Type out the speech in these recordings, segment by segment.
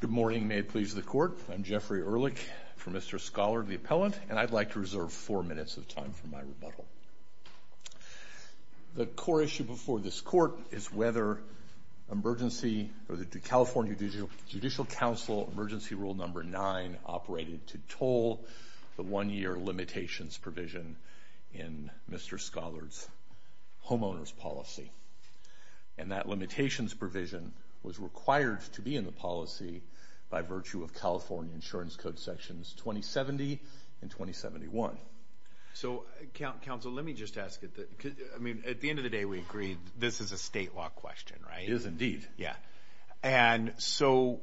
Good morning, may it please the court. I'm Jeffrey Ehrlich from Mr. Scollard, the appellant, and I'd like to reserve four minutes of time for my rebuttal. The core issue before this court is whether emergency or the California Judicial Council Emergency Rule No. 9 operated to toll the one-year limitations provision in Mr. Scollard's homeowner's policy, and that limitations provision was required to be in the policy by virtue of California Insurance Code Sections 2070 and 2071. So, counsel, let me just ask it that, I mean, at the end of the day we agreed this is a state law question, right? It is indeed. Yeah, and so,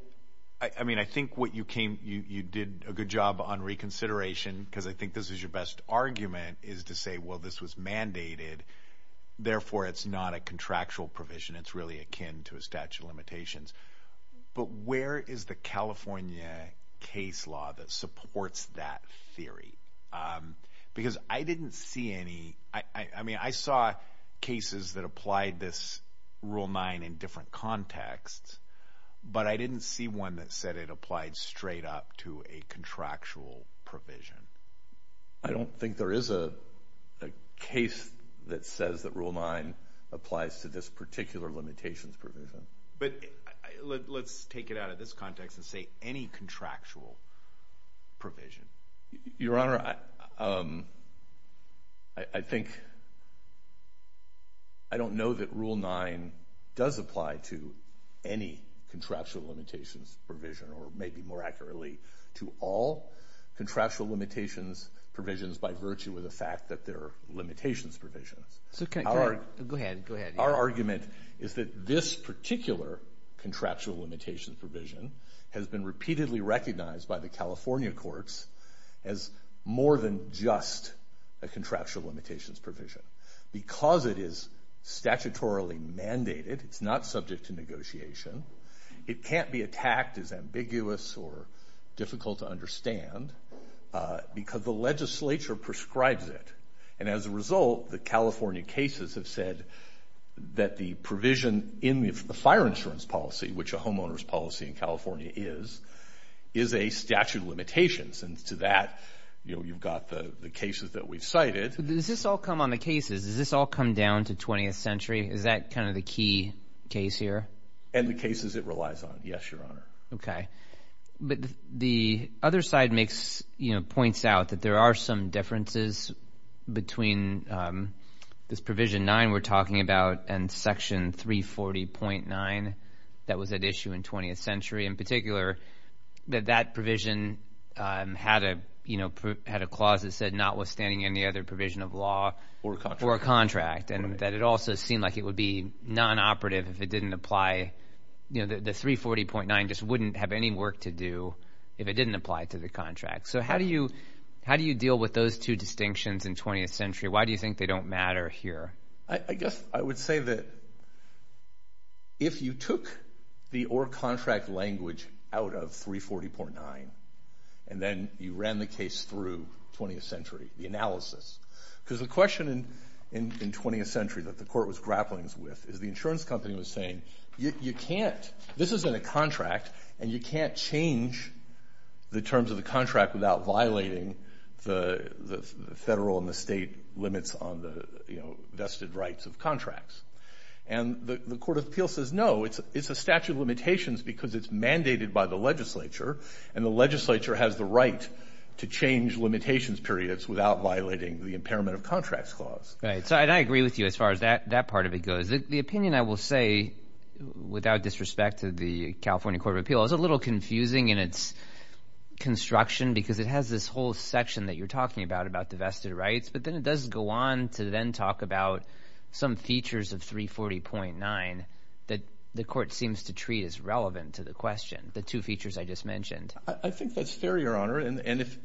I mean, I think what you came, you did a good job on reconsideration, because I think this is your best argument, is to say, well, this was mandated, therefore it's not a contractual provision. It's really akin to a statute of limitations. But where is the California case law that supports that theory? Because I didn't see any, I mean, I saw cases that applied this Rule 9 in different contexts, but I didn't see one that said it applied straight up to a contractual provision. I don't think there is a case that says that Rule 9 applies to this particular limitations provision. But let's take it out of this context and say any contractual provision. Your Honor, I think, I don't know that Rule 9 does apply to any contractual limitations provision, or maybe more accurately, to all contractual limitations provisions by virtue of the fact that there are limitations provisions. So, go ahead, go ahead. Our argument is that this particular contractual limitations provision has been repeatedly recognized by the California courts as more than just a contractual limitations provision. Because it is statutorily mandated, it's not subject to negotiation, it can't be attacked as ambiguous or difficult to understand, because the legislature prescribes it. And as a result, the California cases have said that the provision in the fire insurance policy, which a homeowner's policy in California is, is a statute of limitations. And to that, you've got the cases that we've cited. Does this all come on the cases? Does this all come down to 20th century? Is that kind of the key case here? And the cases it relies on, yes, Your Honor. Okay. But the other side makes, you know, points out that there are some differences between this Provision 9 we're talking about and Section 340.9 that was at issue in 20th century. In that, you know, had a clause that said, notwithstanding any other provision of law or contract, and that it also seemed like it would be non-operative if it didn't apply, you know, the 340.9 just wouldn't have any work to do if it didn't apply to the contract. So how do you how do you deal with those two distinctions in 20th century? Why do you think they don't matter here? I guess I would say that if you took the or contract language out of 340.9 and then you ran the case through 20th century, the analysis. Because the question in 20th century that the court was grappling with is the insurance company was saying, you can't, this isn't a contract, and you can't change the terms of the contract without violating the federal and the state limits on the, you know, vested rights of contracts. And the Court of Appeals says, no, it's a statute of limitations because it's mandated by the legislature, and the legislature has the right to change limitations periods without violating the impairment of contracts clause. Right, so I agree with you as far as that that part of it goes. The opinion, I will say, without disrespect to the California Court of Appeals, is a little confusing in its construction because it has this whole section that you're talking about, about the vested rights, but then it does go on to then talk about some features of 340.9 that the court seems to treat as relevant to the question, the two features I just mentioned. I think that's fair, Your Honor. And if,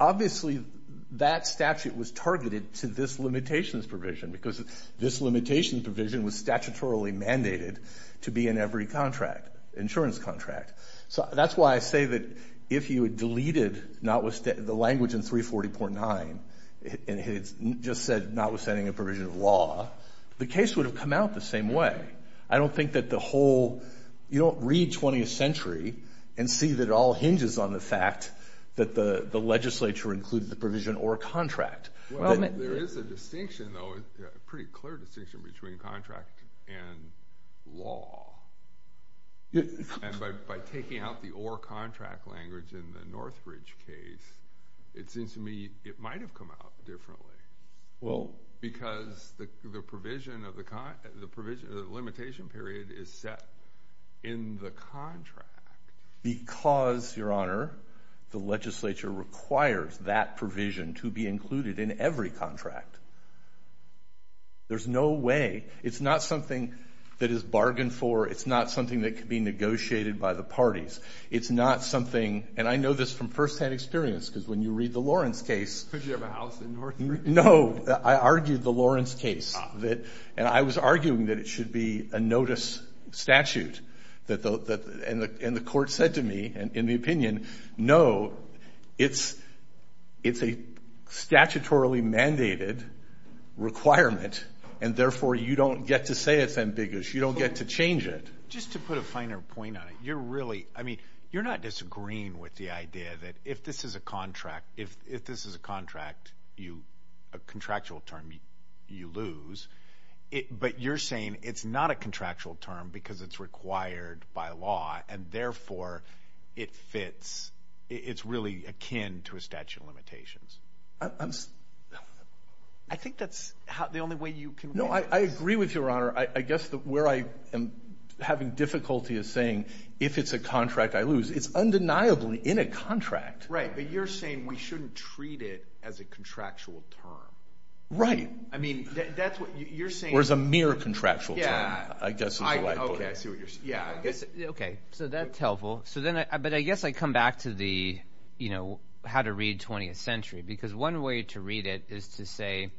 obviously, that statute was targeted to this limitations provision because this limitations provision was statutorily mandated to be in every contract, insurance contract. So that's why I say that if you had deleted the language in 340.9 and had just said not withstanding a provision of law, the case would have come out the same way. I don't think that the whole, you don't read 20th century and see that it all hinges on the fact that the legislature included the provision or contract. Well, there is a distinction, though, a pretty clear distinction between contract and law. And by taking out the or contract language in the Northridge case, it seems to me it might have come out differently. Well. Because the provision of the limitation period is set in the contract. Because, Your Honor, the legislature requires that provision to be included in every contract. There's no way. It's not something that is bargained for. It's not something that could be negotiated by the parties. It's not something, and I know this from firsthand experience, because when you read the Lawrence case. Because you have a house in Northridge? No, I argued the Lawrence case, and I was arguing that it should be a notice statute. And the court said to me, in the opinion, no, it's a statutorily mandated requirement, and therefore you don't get to say it's ambiguous. You don't get to change it. Just to put a finer point on it, you're really, I mean, you're not disagreeing with the idea that if this is a contract, if this is a contract, a contractual term, you lose. But you're saying it's not a contractual term because it's required by law, and therefore it fits. It's really akin to a statute of limitations. I think that's the only way you can. No, I agree with Your Honor. I guess that where I am having difficulty is saying, if it's a contract, I lose. It's undeniably in a contract. Right, but you're saying we shouldn't treat it as a contractual term. Right. I mean, that's what you're saying. Or as a mere contractual term, I guess. Yeah, okay, so that's helpful. So then, but I guess I come back to the, you know, how to read 20th century. Because one way to read it is to say,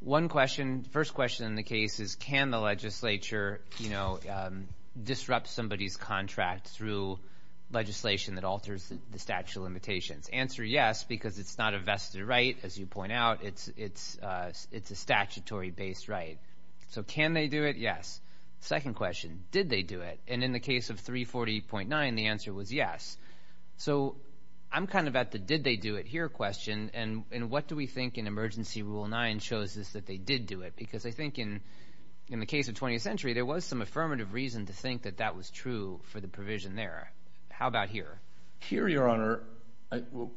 one question, first question in the case is, can the legislature, you know, disrupt somebody's contract through legislation that alters the statute of limitations? Answer, yes, because it's not a vested right, as you point out. It's a statutory-based right. So can they do it? Yes. Second question, did they do it? And in the case of 340.9, the answer was yes. So I'm kind of at the did they do it here question. And what do we think in Emergency Rule 9 shows us that they did do it? Because I think in the case of 20th Century, there was some affirmative reason to think that that was true for the provision there. How about here? Here, Your Honor,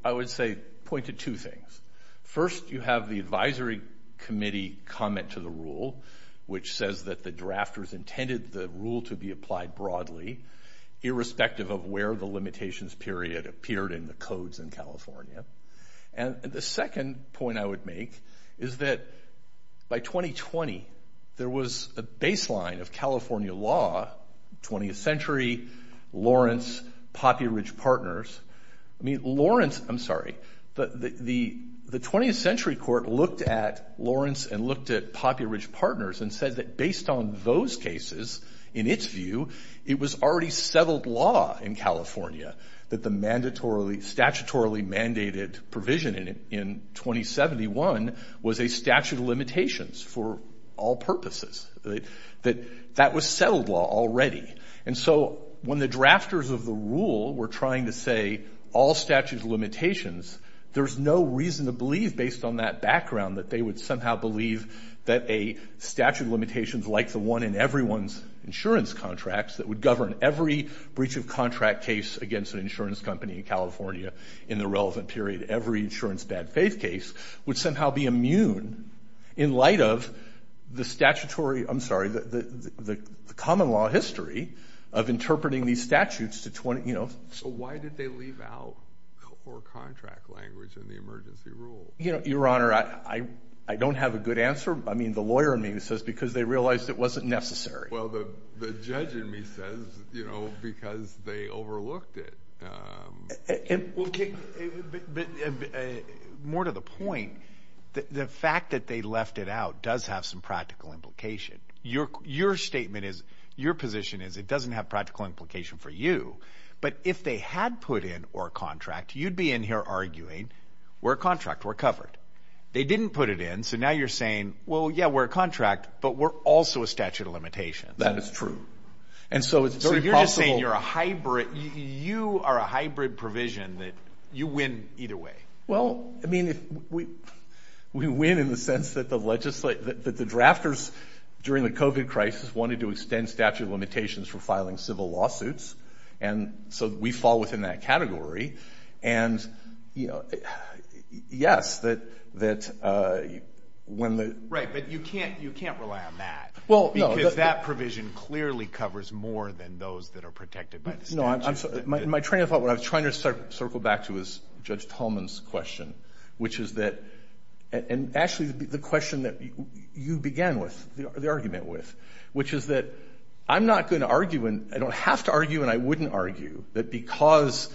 I would say point to two things. First, you have the Advisory Committee comment to the rule, which says that the drafters intended the rule to be applied broadly, irrespective of where the limitations period appeared in the codes in California. And the second point I would make is that by 2020, there was a baseline of California law, 20th Century, Lawrence, Poppy Ridge Partners. I mean, Lawrence, I'm sorry, but the 20th Century Court looked at Lawrence and looked at Poppy Ridge Partners and said that based on those cases, in its view, it was already settled law in California that the mandatorily, statutorily mandated provision in 2071 was a statute of limitations for all purposes. That was settled law already. And so when the drafters of the rule were trying to say all statute of limitations, there's no reason to believe, based on that background, that they would somehow believe that a statute of limitations like the one in everyone's insurance contracts that would govern every breach of contract case against an insurance company in California in the relevant period, every insurance bad faith case, would somehow be immune in light of the statutory, I'm sorry, the history of interpreting these statutes to 20, you know. So why did they leave out core contract language in the emergency rule? You know, Your Honor, I don't have a good answer. I mean, the lawyer in me says because they realized it wasn't necessary. Well, the judge in me says, you know, because they overlooked it. More to the point, the fact that they left it out does have some practical implication. Your statement is, your position is, it doesn't have practical implication for you. But if they had put in or contract, you'd be in here arguing we're contract, we're covered. They didn't put it in, so now you're saying, well, yeah, we're a contract, but we're also a statute of limitations. That is true. And so it's very possible. So you're just saying you're a hybrid, you are a hybrid provision that you win either way. Well, I mean, we win in the sense that the drafters during the COVID crisis wanted to extend statute of limitations for filing civil lawsuits. And so we fall within that category. And, you know, yes, that when the... Right, but you can't rely on that. Well, because that provision clearly covers more than those that are protected by the statute. No, I'm sorry. My train of thought, what I was trying to circle back to is Judge Hullman's question, which is that, and actually the question that you began with, the argument with, which is that I'm not going to argue, and I don't have to argue, and I wouldn't argue that because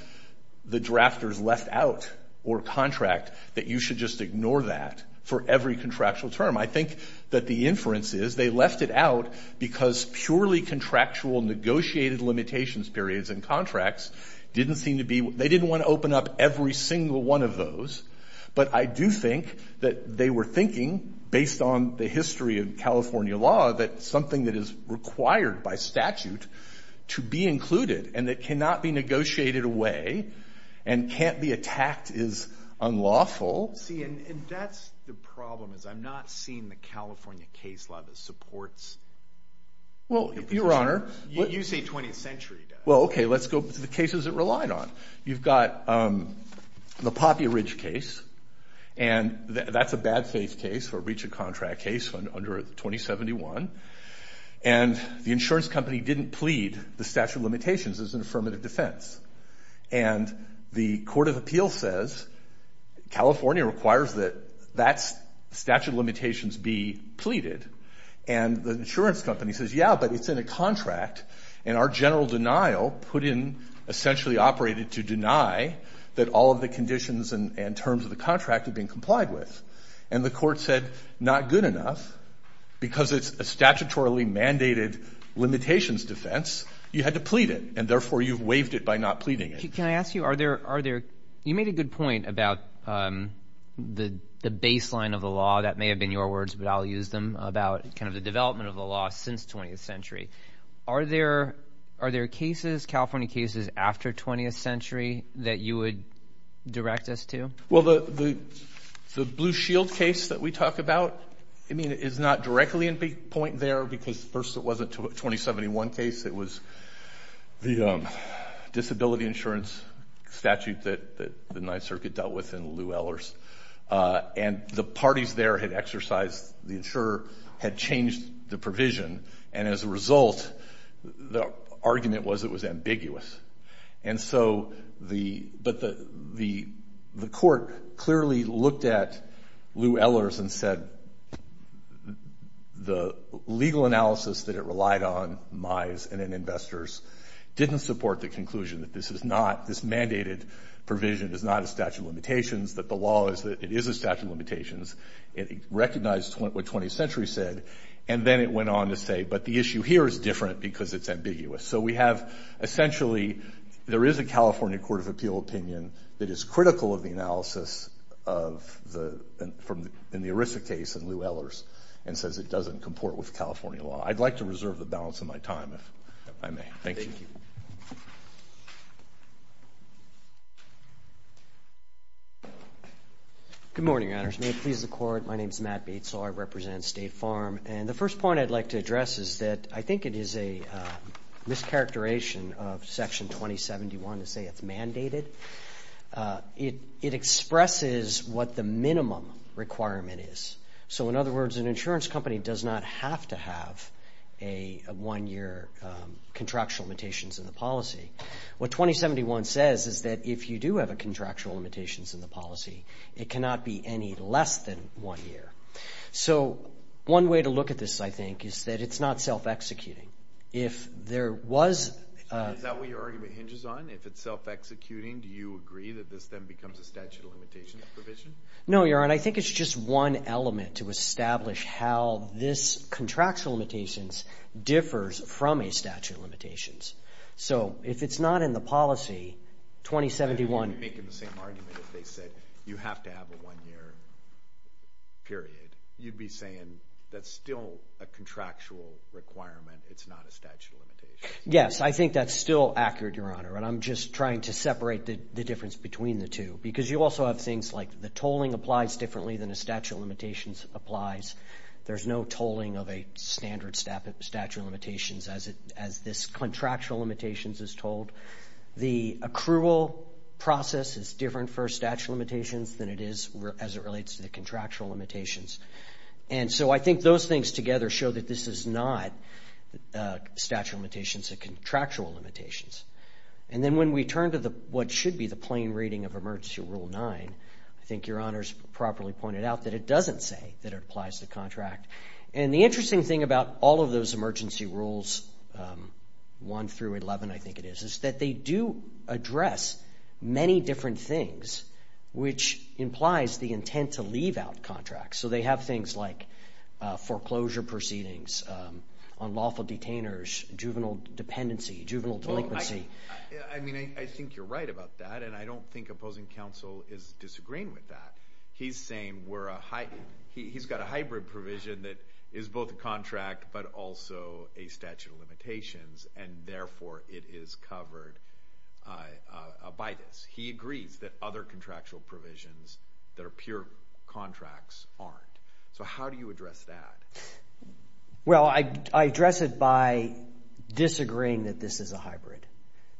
the drafters left out or contract that you should just ignore that for every contractual term. I think that the inference is they left it out because purely contractual negotiated limitations periods and contracts didn't seem to be, they didn't want to open up every single one of those. But I do think that they were thinking, based on the history of California law, that something that is required by statute to be included and that cannot be negotiated away and can't be attacked is unlawful. See, and that's the problem, is I'm not seeing the California case law that supports... Well, Your Honor... You say 20th century does. Well, okay, let's go to the cases it relied on. You've got the Poppy Ridge case, and that's a bad-faith case or breach of contract case under 2071, and the insurance company didn't plead the statute of limitations as an affirmative defense. And the Court of Appeal says California requires that that statute of limitations be pleaded, and the insurance company says, yeah, but it's in a contract, and our general denial put in, essentially operated to deny that all of the conditions and terms of the contract had been complied with. And the court said, not good enough, because it's a statutorily mandated limitations defense, you had to plead it, and therefore, you've waived it by not pleading it. Can I ask you, are there... You made a good point about the baseline of the law, that may have been your words, but I'll use them, about kind of the development of the law since 20th century. Are there cases, California cases, after 20th century that you would direct us to? Well, the Blue Shield case that we talk about, I mean, it's not directly in point there, because first, it wasn't a 2071 case. It was the disability insurance statute that the Ninth Circuit dealt with in Lew Ellers. And the parties there had exercised... The insurer had changed the provision, and as a result, the argument was it was ambiguous. But the court clearly looked at Lew Ellers and said, the legal analysis that it relied on, Mies and investors, didn't support the conclusion that this is not... This mandated provision is not a statute of limitations. It recognized what 20th century said, and then it went on to say, but the issue here is different because it's ambiguous. So we have, essentially, there is a California Court of Appeal opinion that is critical of the analysis of the... In the ERISA case in Lew Ellers, and says it doesn't comport with California law. I'd like to reserve the balance of my time, if I may. Thank you. Good morning, Your Honors. May it please the court, my name is Matt Bates, so I represent State Farm. And the first point I'd like to address is that I think it is a mischaracterization of Section 2071 to say it's mandated. It expresses what the minimum requirement is. So in other words, an insurance company does not have to have a one-year contractual limitations in the policy. What 2071 says is that if you do have a contractual limitations in the policy, it cannot be any less than one year. So one way to look at this, I think, is that it's not self-executing. If there was... Is that what your argument hinges on? If it's self-executing, do you agree that this then becomes a statute of limitations provision? No, Your Honor. I think it's just one element to establish how this contractual limitations differs from a statute of limitations. So if it's not in the policy, 2071... You're making the same argument as they said. You have to have a one-year period. You'd be saying that's still a contractual requirement, it's not a statute of limitations. Yes. I think that's still accurate, Your Honor. And I'm just trying to separate the difference between the two because you also have things like the tolling applies differently than a statute of limitations applies. There's no tolling of a standard statute of limitations as this contractual limitations is told. The accrual process is different for a statute of limitations than it is as it relates to the contractual limitations. And so I think those things together show that this is not a statute of limitations, a contractual limitations. And then when we turn to what should be the plain reading of Emergency Rule 9, I think Your Honor's properly pointed out that it doesn't say that it applies to contract. And the interesting thing about all of those emergency rules, 1 through 11 I think it is, is that they do address many different things which implies the intent to leave out contracts. So they have things like foreclosure proceedings, unlawful detainers, juvenile dependency, juvenile delinquency. I mean, I think you're right about that. And I don't think opposing counsel is disagreeing with that. He's saying he's got a hybrid provision that is both a contract but also a statute of limitations and therefore it is covered by this. He agrees that other contractual provisions that are pure contracts aren't. So how do you address that? Well, I address it by disagreeing that this is a hybrid.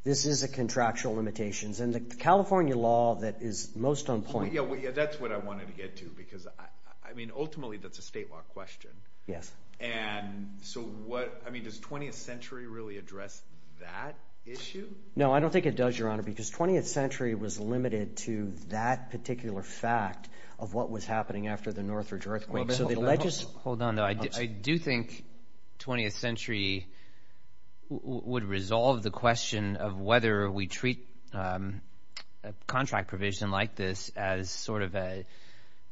This is a contractual limitations. And the California law that is most on point... Well, yeah, that's what I wanted to get to because, I mean, ultimately that's a state law question. Yes. And so what... I mean, does 20th century really address that issue? No, I don't think it does, Your Honor, because 20th century was limited to that particular fact of what was happening after the Northridge earthquake. Hold on, though. I do think 20th century would resolve the question of whether we treat a contract provision like this as sort of a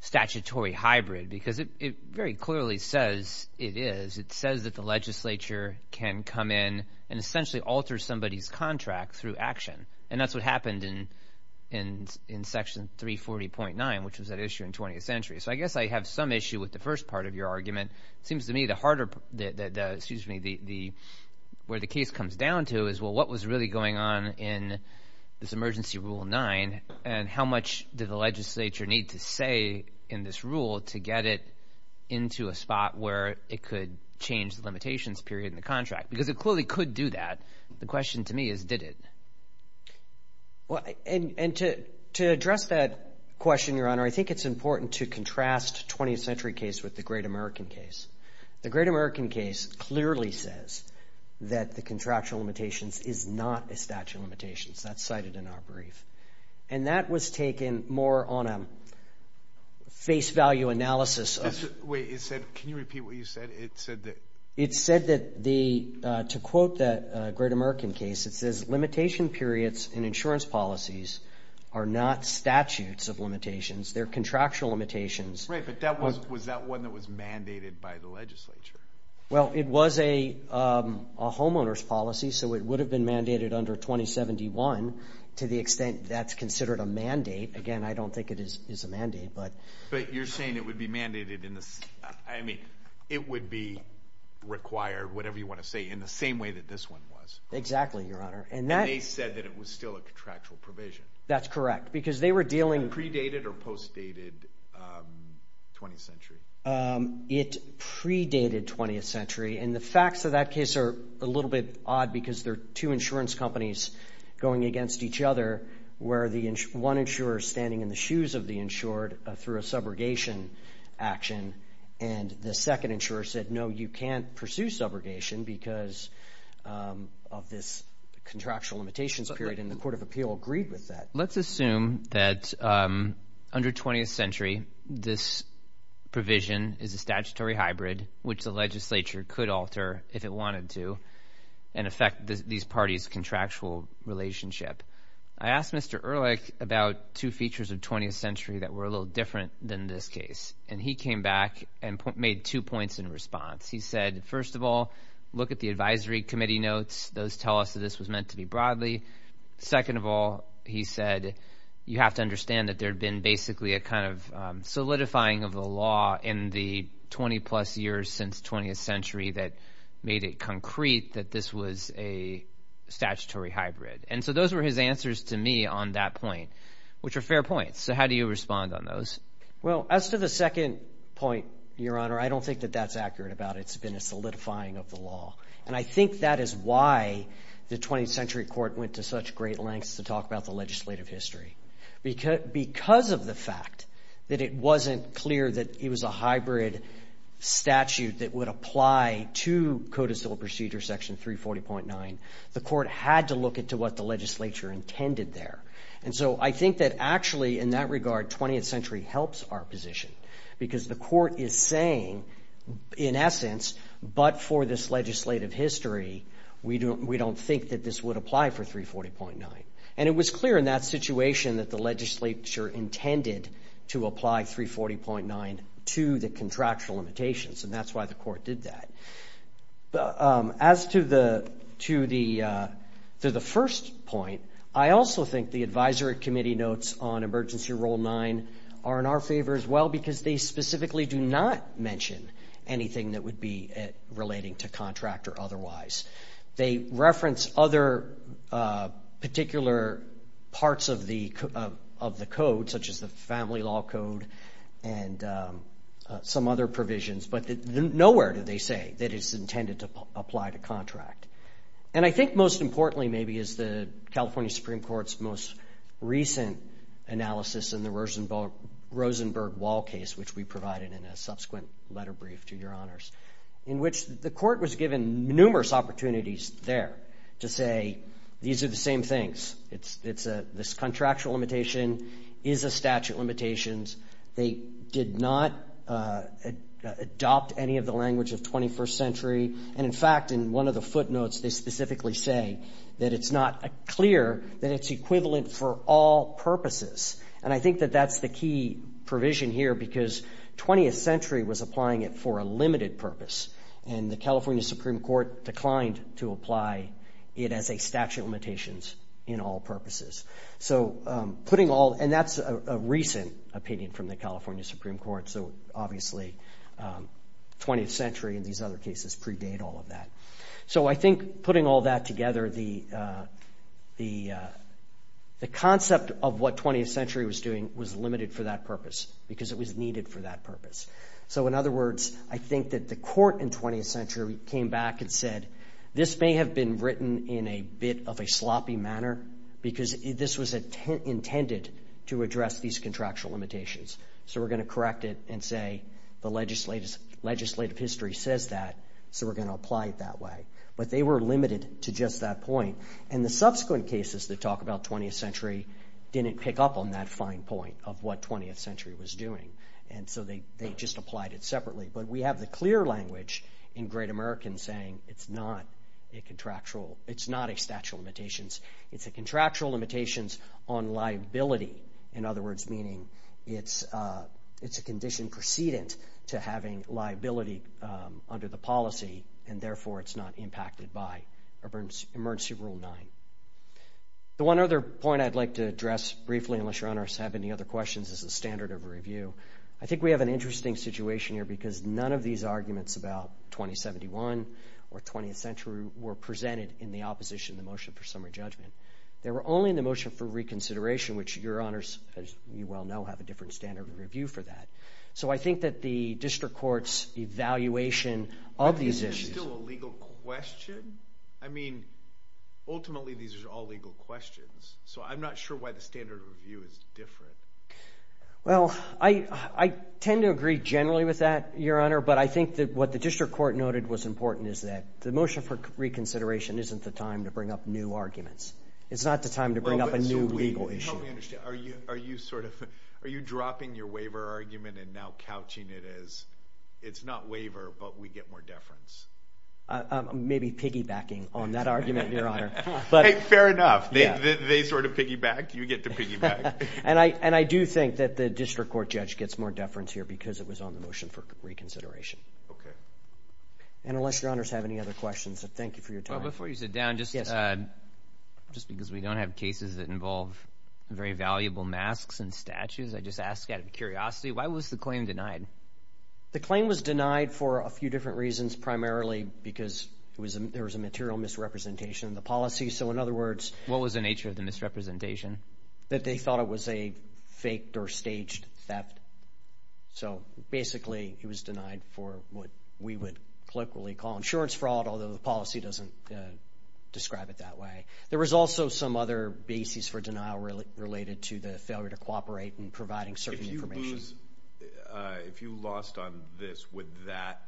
statutory hybrid because it very clearly says it is. It says that the legislature can come in and essentially alter somebody's contract through action. And that's what happened in Section 340.9, which was that issue in 20th century. So I guess I have some issue with the first part of your argument. It seems to me the harder... Excuse me, where the case comes down to is, well, what was really going on in this Emergency Rule 9 and how much did the legislature need to say in this rule to get it into a spot where it could change the limitations period in the contract? Because it clearly could do that. The question to me is, did it? Well, and to address that question, Your Honor, I think it's important to contrast 20th century case with the Great American case. The Great American case clearly says that the contractual limitations is not a statute of limitations. That's cited in our brief. And that was taken more on a face value analysis. Wait, it said... Can you repeat what you said? It said that... It said that the... To quote the Great American case, it says, limitation periods in insurance policies are not statutes of limitations. They're contractual limitations. Right, but that was... Was that one that was mandated by the legislature? Well, it was a homeowner's policy, so it would have been mandated under 2071 to the extent that's considered a mandate. Again, I don't think it is a mandate, but... But you're saying it would be mandated in the... I mean, it would be required, whatever you wanna say, in the same way that this one was. Exactly, Your Honor. And that... And they said that it was still a contractual provision. That's correct, because they were predated or post dated 20th century? It predated 20th century, and the facts of that case are a little bit odd, because they're two insurance companies going against each other, where the one insurer is standing in the shoes of the insured through a subrogation action, and the second insurer said, no, you can't pursue subrogation because of this contractual limitations period, and the Court of Appeal agreed with that. Let's assume that under 20th century, this provision is a statutory hybrid, which the legislature could alter if it wanted to, and affect these parties' contractual relationship. I asked Mr. Ehrlich about two features of 20th century that were a little different than this case, and he came back and made two points in response. He said, first of all, look at the advisory committee notes. Those tell us that this was meant to be broadly. Second of all, he said, you have to understand that there had been basically a kind of solidifying of the law in the 20 plus years since 20th century that made it concrete that this was a statutory hybrid. And so those were his answers to me on that point, which are fair points. So how do you respond on those? Well, as to the second point, Your Honor, I don't think that that's accurate about it. It's been a solidifying of the law. And I think that is why the 20th century court went to such great lengths to talk about the legislative history. Because of the fact that it wasn't clear that it was a hybrid statute that would apply to Code of Civil Procedure, Section 340.9, the court had to look into what the legislature intended there. And so I think that actually in that regard, 20th century helps our position, because the court is saying, in essence, but for this legislative history, we don't think that this would apply for 340.9. And it was clear in that situation that the legislature intended to apply 340.9 to the contractual limitations. And that's why the court did that. But as to the first point, I also think the advisory committee notes on Emergency Rule 9 are in our favor as well, because they specifically do not mention anything that would be relating to contract or otherwise. They reference other particular parts of the Code, such as the Family Law Code and some other provisions. But nowhere do they say that it's intended to apply to contract. And I think most importantly, maybe, is the California Supreme Court's most recent analysis in the Rosenberg Wall case, which we provided in a subsequent letter brief to Your Honors, in which the court was given numerous opportunities there to say, these are the same things. This contractual limitation is a statute limitation. They did not adopt any of the language of 21st century. And, in fact, in one of the footnotes, they specifically say that it's not clear that it's equivalent for all purposes. And I think that that's the key provision here, because 20th century was applying it for a limited purpose. And the California Supreme Court declined to apply it as a statute of limitations in all purposes. And that's a recent opinion from the California Supreme Court. So, obviously, 20th century and these other cases predate all of that. So I think putting all that together, the concept of what 20th century was doing was limited for that purpose, because it was needed for that purpose. So, in other words, I think that the court in 20th century came back and said, this may have been written in a bit of a sloppy manner, because this was intended to address these contractual limitations. So we're going to correct it and say the legislative history says that, so we're going to apply it that way. But they were limited to just that point. And the subsequent cases that talk about 20th century didn't pick up on that fine point of what 20th century was doing. And so they just applied it separately. But we have the clear language in Great American saying it's not a contractual, it's not a statute of limitations. It's a contractual limitations on liability. In other words, meaning it's a condition precedent to having liability under the policy, and therefore it's not impacted by Emergency Rule 9. The one other point I'd like to address briefly, unless your honors have any other questions, is the standard of review. I think we have an interesting situation here, because none of these arguments about 2071 or 20th century were presented in the opposition to the motion for summary judgment. They were only in the motion for reconsideration, which your honors, as you well know, have a different standard of review for that. So I think that the district court's evaluation of these issues... Is there still a legal question? I mean, ultimately these are all legal questions. So I'm not sure why the standard of review is different. Well, I tend to agree generally with that, your honor, but I think that what the district court noted was important is that the motion for reconsideration isn't the time to bring up new arguments. It's not the time to bring up a new legal issue. Are you dropping your waiver argument and now couching it as, it's not waiver, but we get more deference? Maybe piggybacking on that argument, your honor. Fair enough. They sort of piggyback, you get to piggyback. And I do think that the district court judge gets more deference here because it was on the motion for reconsideration. Okay. And unless your honors have any other questions, thank you for your time. Well, before you sit down, just because we don't have cases that involve very valuable masks and statues, I just ask out of curiosity, why was the claim denied? The claim was denied for a few different reasons, primarily because there was a material misrepresentation of the policy. So in other words... What was the nature of the misrepresentation? That they thought it was a faked or staged theft. So basically it was denied for what we would colloquially call insurance fraud, although the policy doesn't describe it that way. There was also some other basis for denial related to the failure to cooperate in providing certain information. If you lost on this, would that,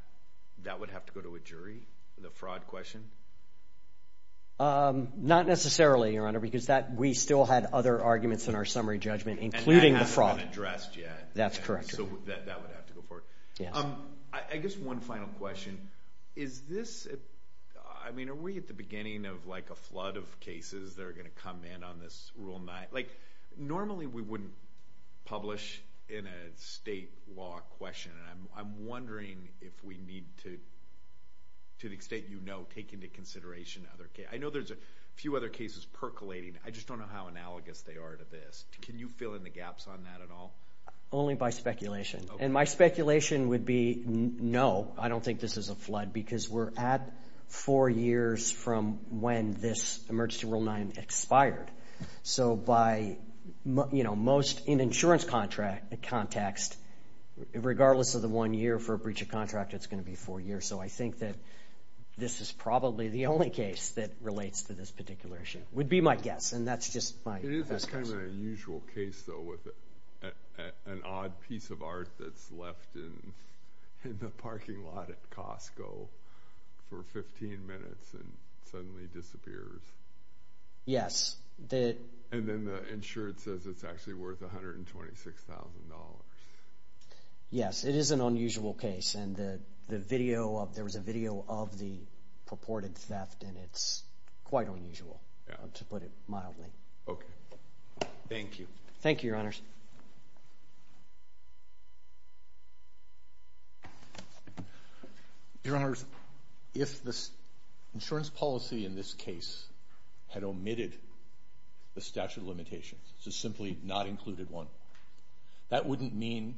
that would have to go to a jury? The fraud question? Not necessarily, your honor, because that, we still had other arguments in our summary judgment, including the fraud. And that hasn't been addressed yet. That's correct. So that would have to go forward. I guess one final question. Is this, I mean, are we at the beginning of like a flood of cases that are going to come in on this Rule 9? Like normally we wouldn't publish in a state law question, and I'm wondering if we need to, to the extent you know, take into consideration other cases. I know there's a few other cases percolating. I just don't know how analogous they are to this. Can you fill in the gaps on that at all? Only by speculation. And my speculation would be, no, I don't think this is a flood, because we're at four years from when this emergency Rule 9 expired. So by, you know, most, in insurance contract, context, regardless of the one year for a breach of contract, it's going to be four years. So I think that this is probably the only case that relates to this particular issue. Would be my guess. And that's just my guess. Kind of an unusual case, though, with an odd piece of art that's left in the parking lot at Costco for 15 minutes and suddenly disappears. Yes. And then the insurance says it's actually worth $126,000. Yes, it is an unusual case, and the video of, there was a video of the purported theft, and it's quite unusual, to put it Okay. Thank you. Thank you, Your Honors. Your Honors, if the insurance policy in this case had omitted the statute of limitations, so simply not included one, that wouldn't mean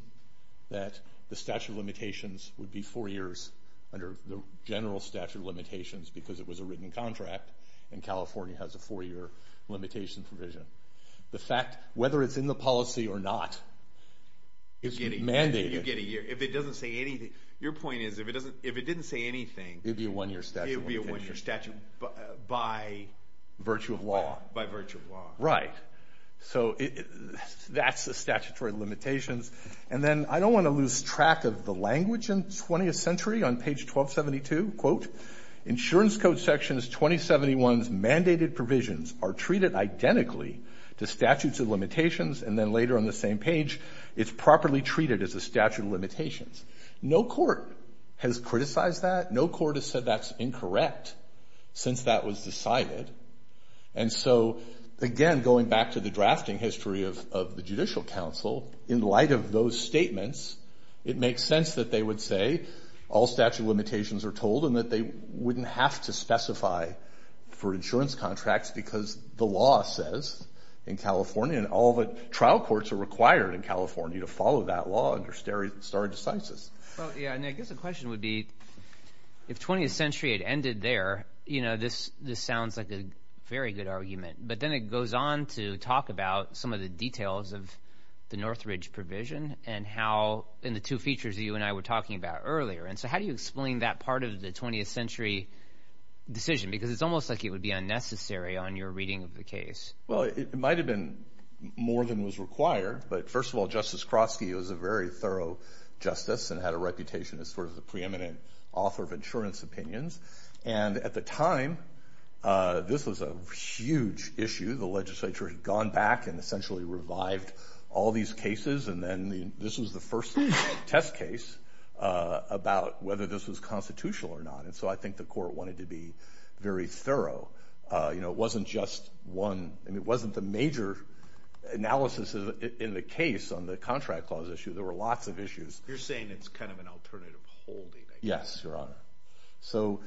that the statute of limitations would be four years under the general statute of limitations, because it was a written contract, and California has a four year limitation provision. The fact, whether it's in the policy or not, is mandated. You get a year. If it doesn't say anything, your point is, if it doesn't, if it didn't say anything, It would be a one year statute. It would be a one year statute by virtue of law. By virtue of law. Right. So that's the statutory limitations. And then I don't want to lose track of the language in the 20th century, on page 1272, quote, insurance code section 2071's mandated provisions are treated identically to statutes of limitations, and then later on the same page, it's properly treated as a statute of limitations. No court has criticized that. No court has said that's incorrect, since that was decided. And so, again, going back to the drafting history of the judicial counsel, in light of those statements, it makes sense that they would say all statute limitations are told, and that they wouldn't have to specify for insurance contracts, because the law says, in California, and all of the trial courts are required in California to follow that law under stare decisis. Well, yeah, and I guess the question would be, if 20th century had ended there, you know, this sounds like a very good argument. But then it goes on to talk about some of the details of the Northridge provision, and how in the two features that you and I were talking about earlier. And so how do you explain that part of the 20th century decision? Because it's almost like it would be unnecessary on your reading of the case. Well, it might have been more than was required. But first of all, Justice Kroski was a very thorough justice, and had a reputation as sort of the preeminent author of insurance opinions. And at the time, this was a huge issue. The legislature had gone back and essentially revived all these cases. And then this was the first test case about whether this was constitutional or not. And so I think the court wanted to be very thorough. You know, it wasn't just one. I mean, it wasn't the major analysis in the case on the contract clause issue. There were lots of issues. You're saying it's kind of an alternative holding, I guess. Yes, Your Honor. So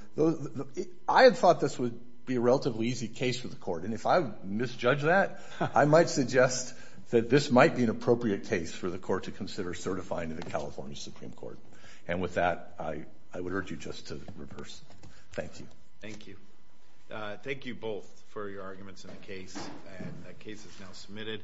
I had thought this would be a relatively easy case for the court. And if I misjudge that, I might suggest that this might be an appropriate case for the court to consider certifying to the California Supreme Court. And with that, I would urge you just to reverse. Thank you. Thank you. Thank you both for your arguments in the case. And that case is now submitted.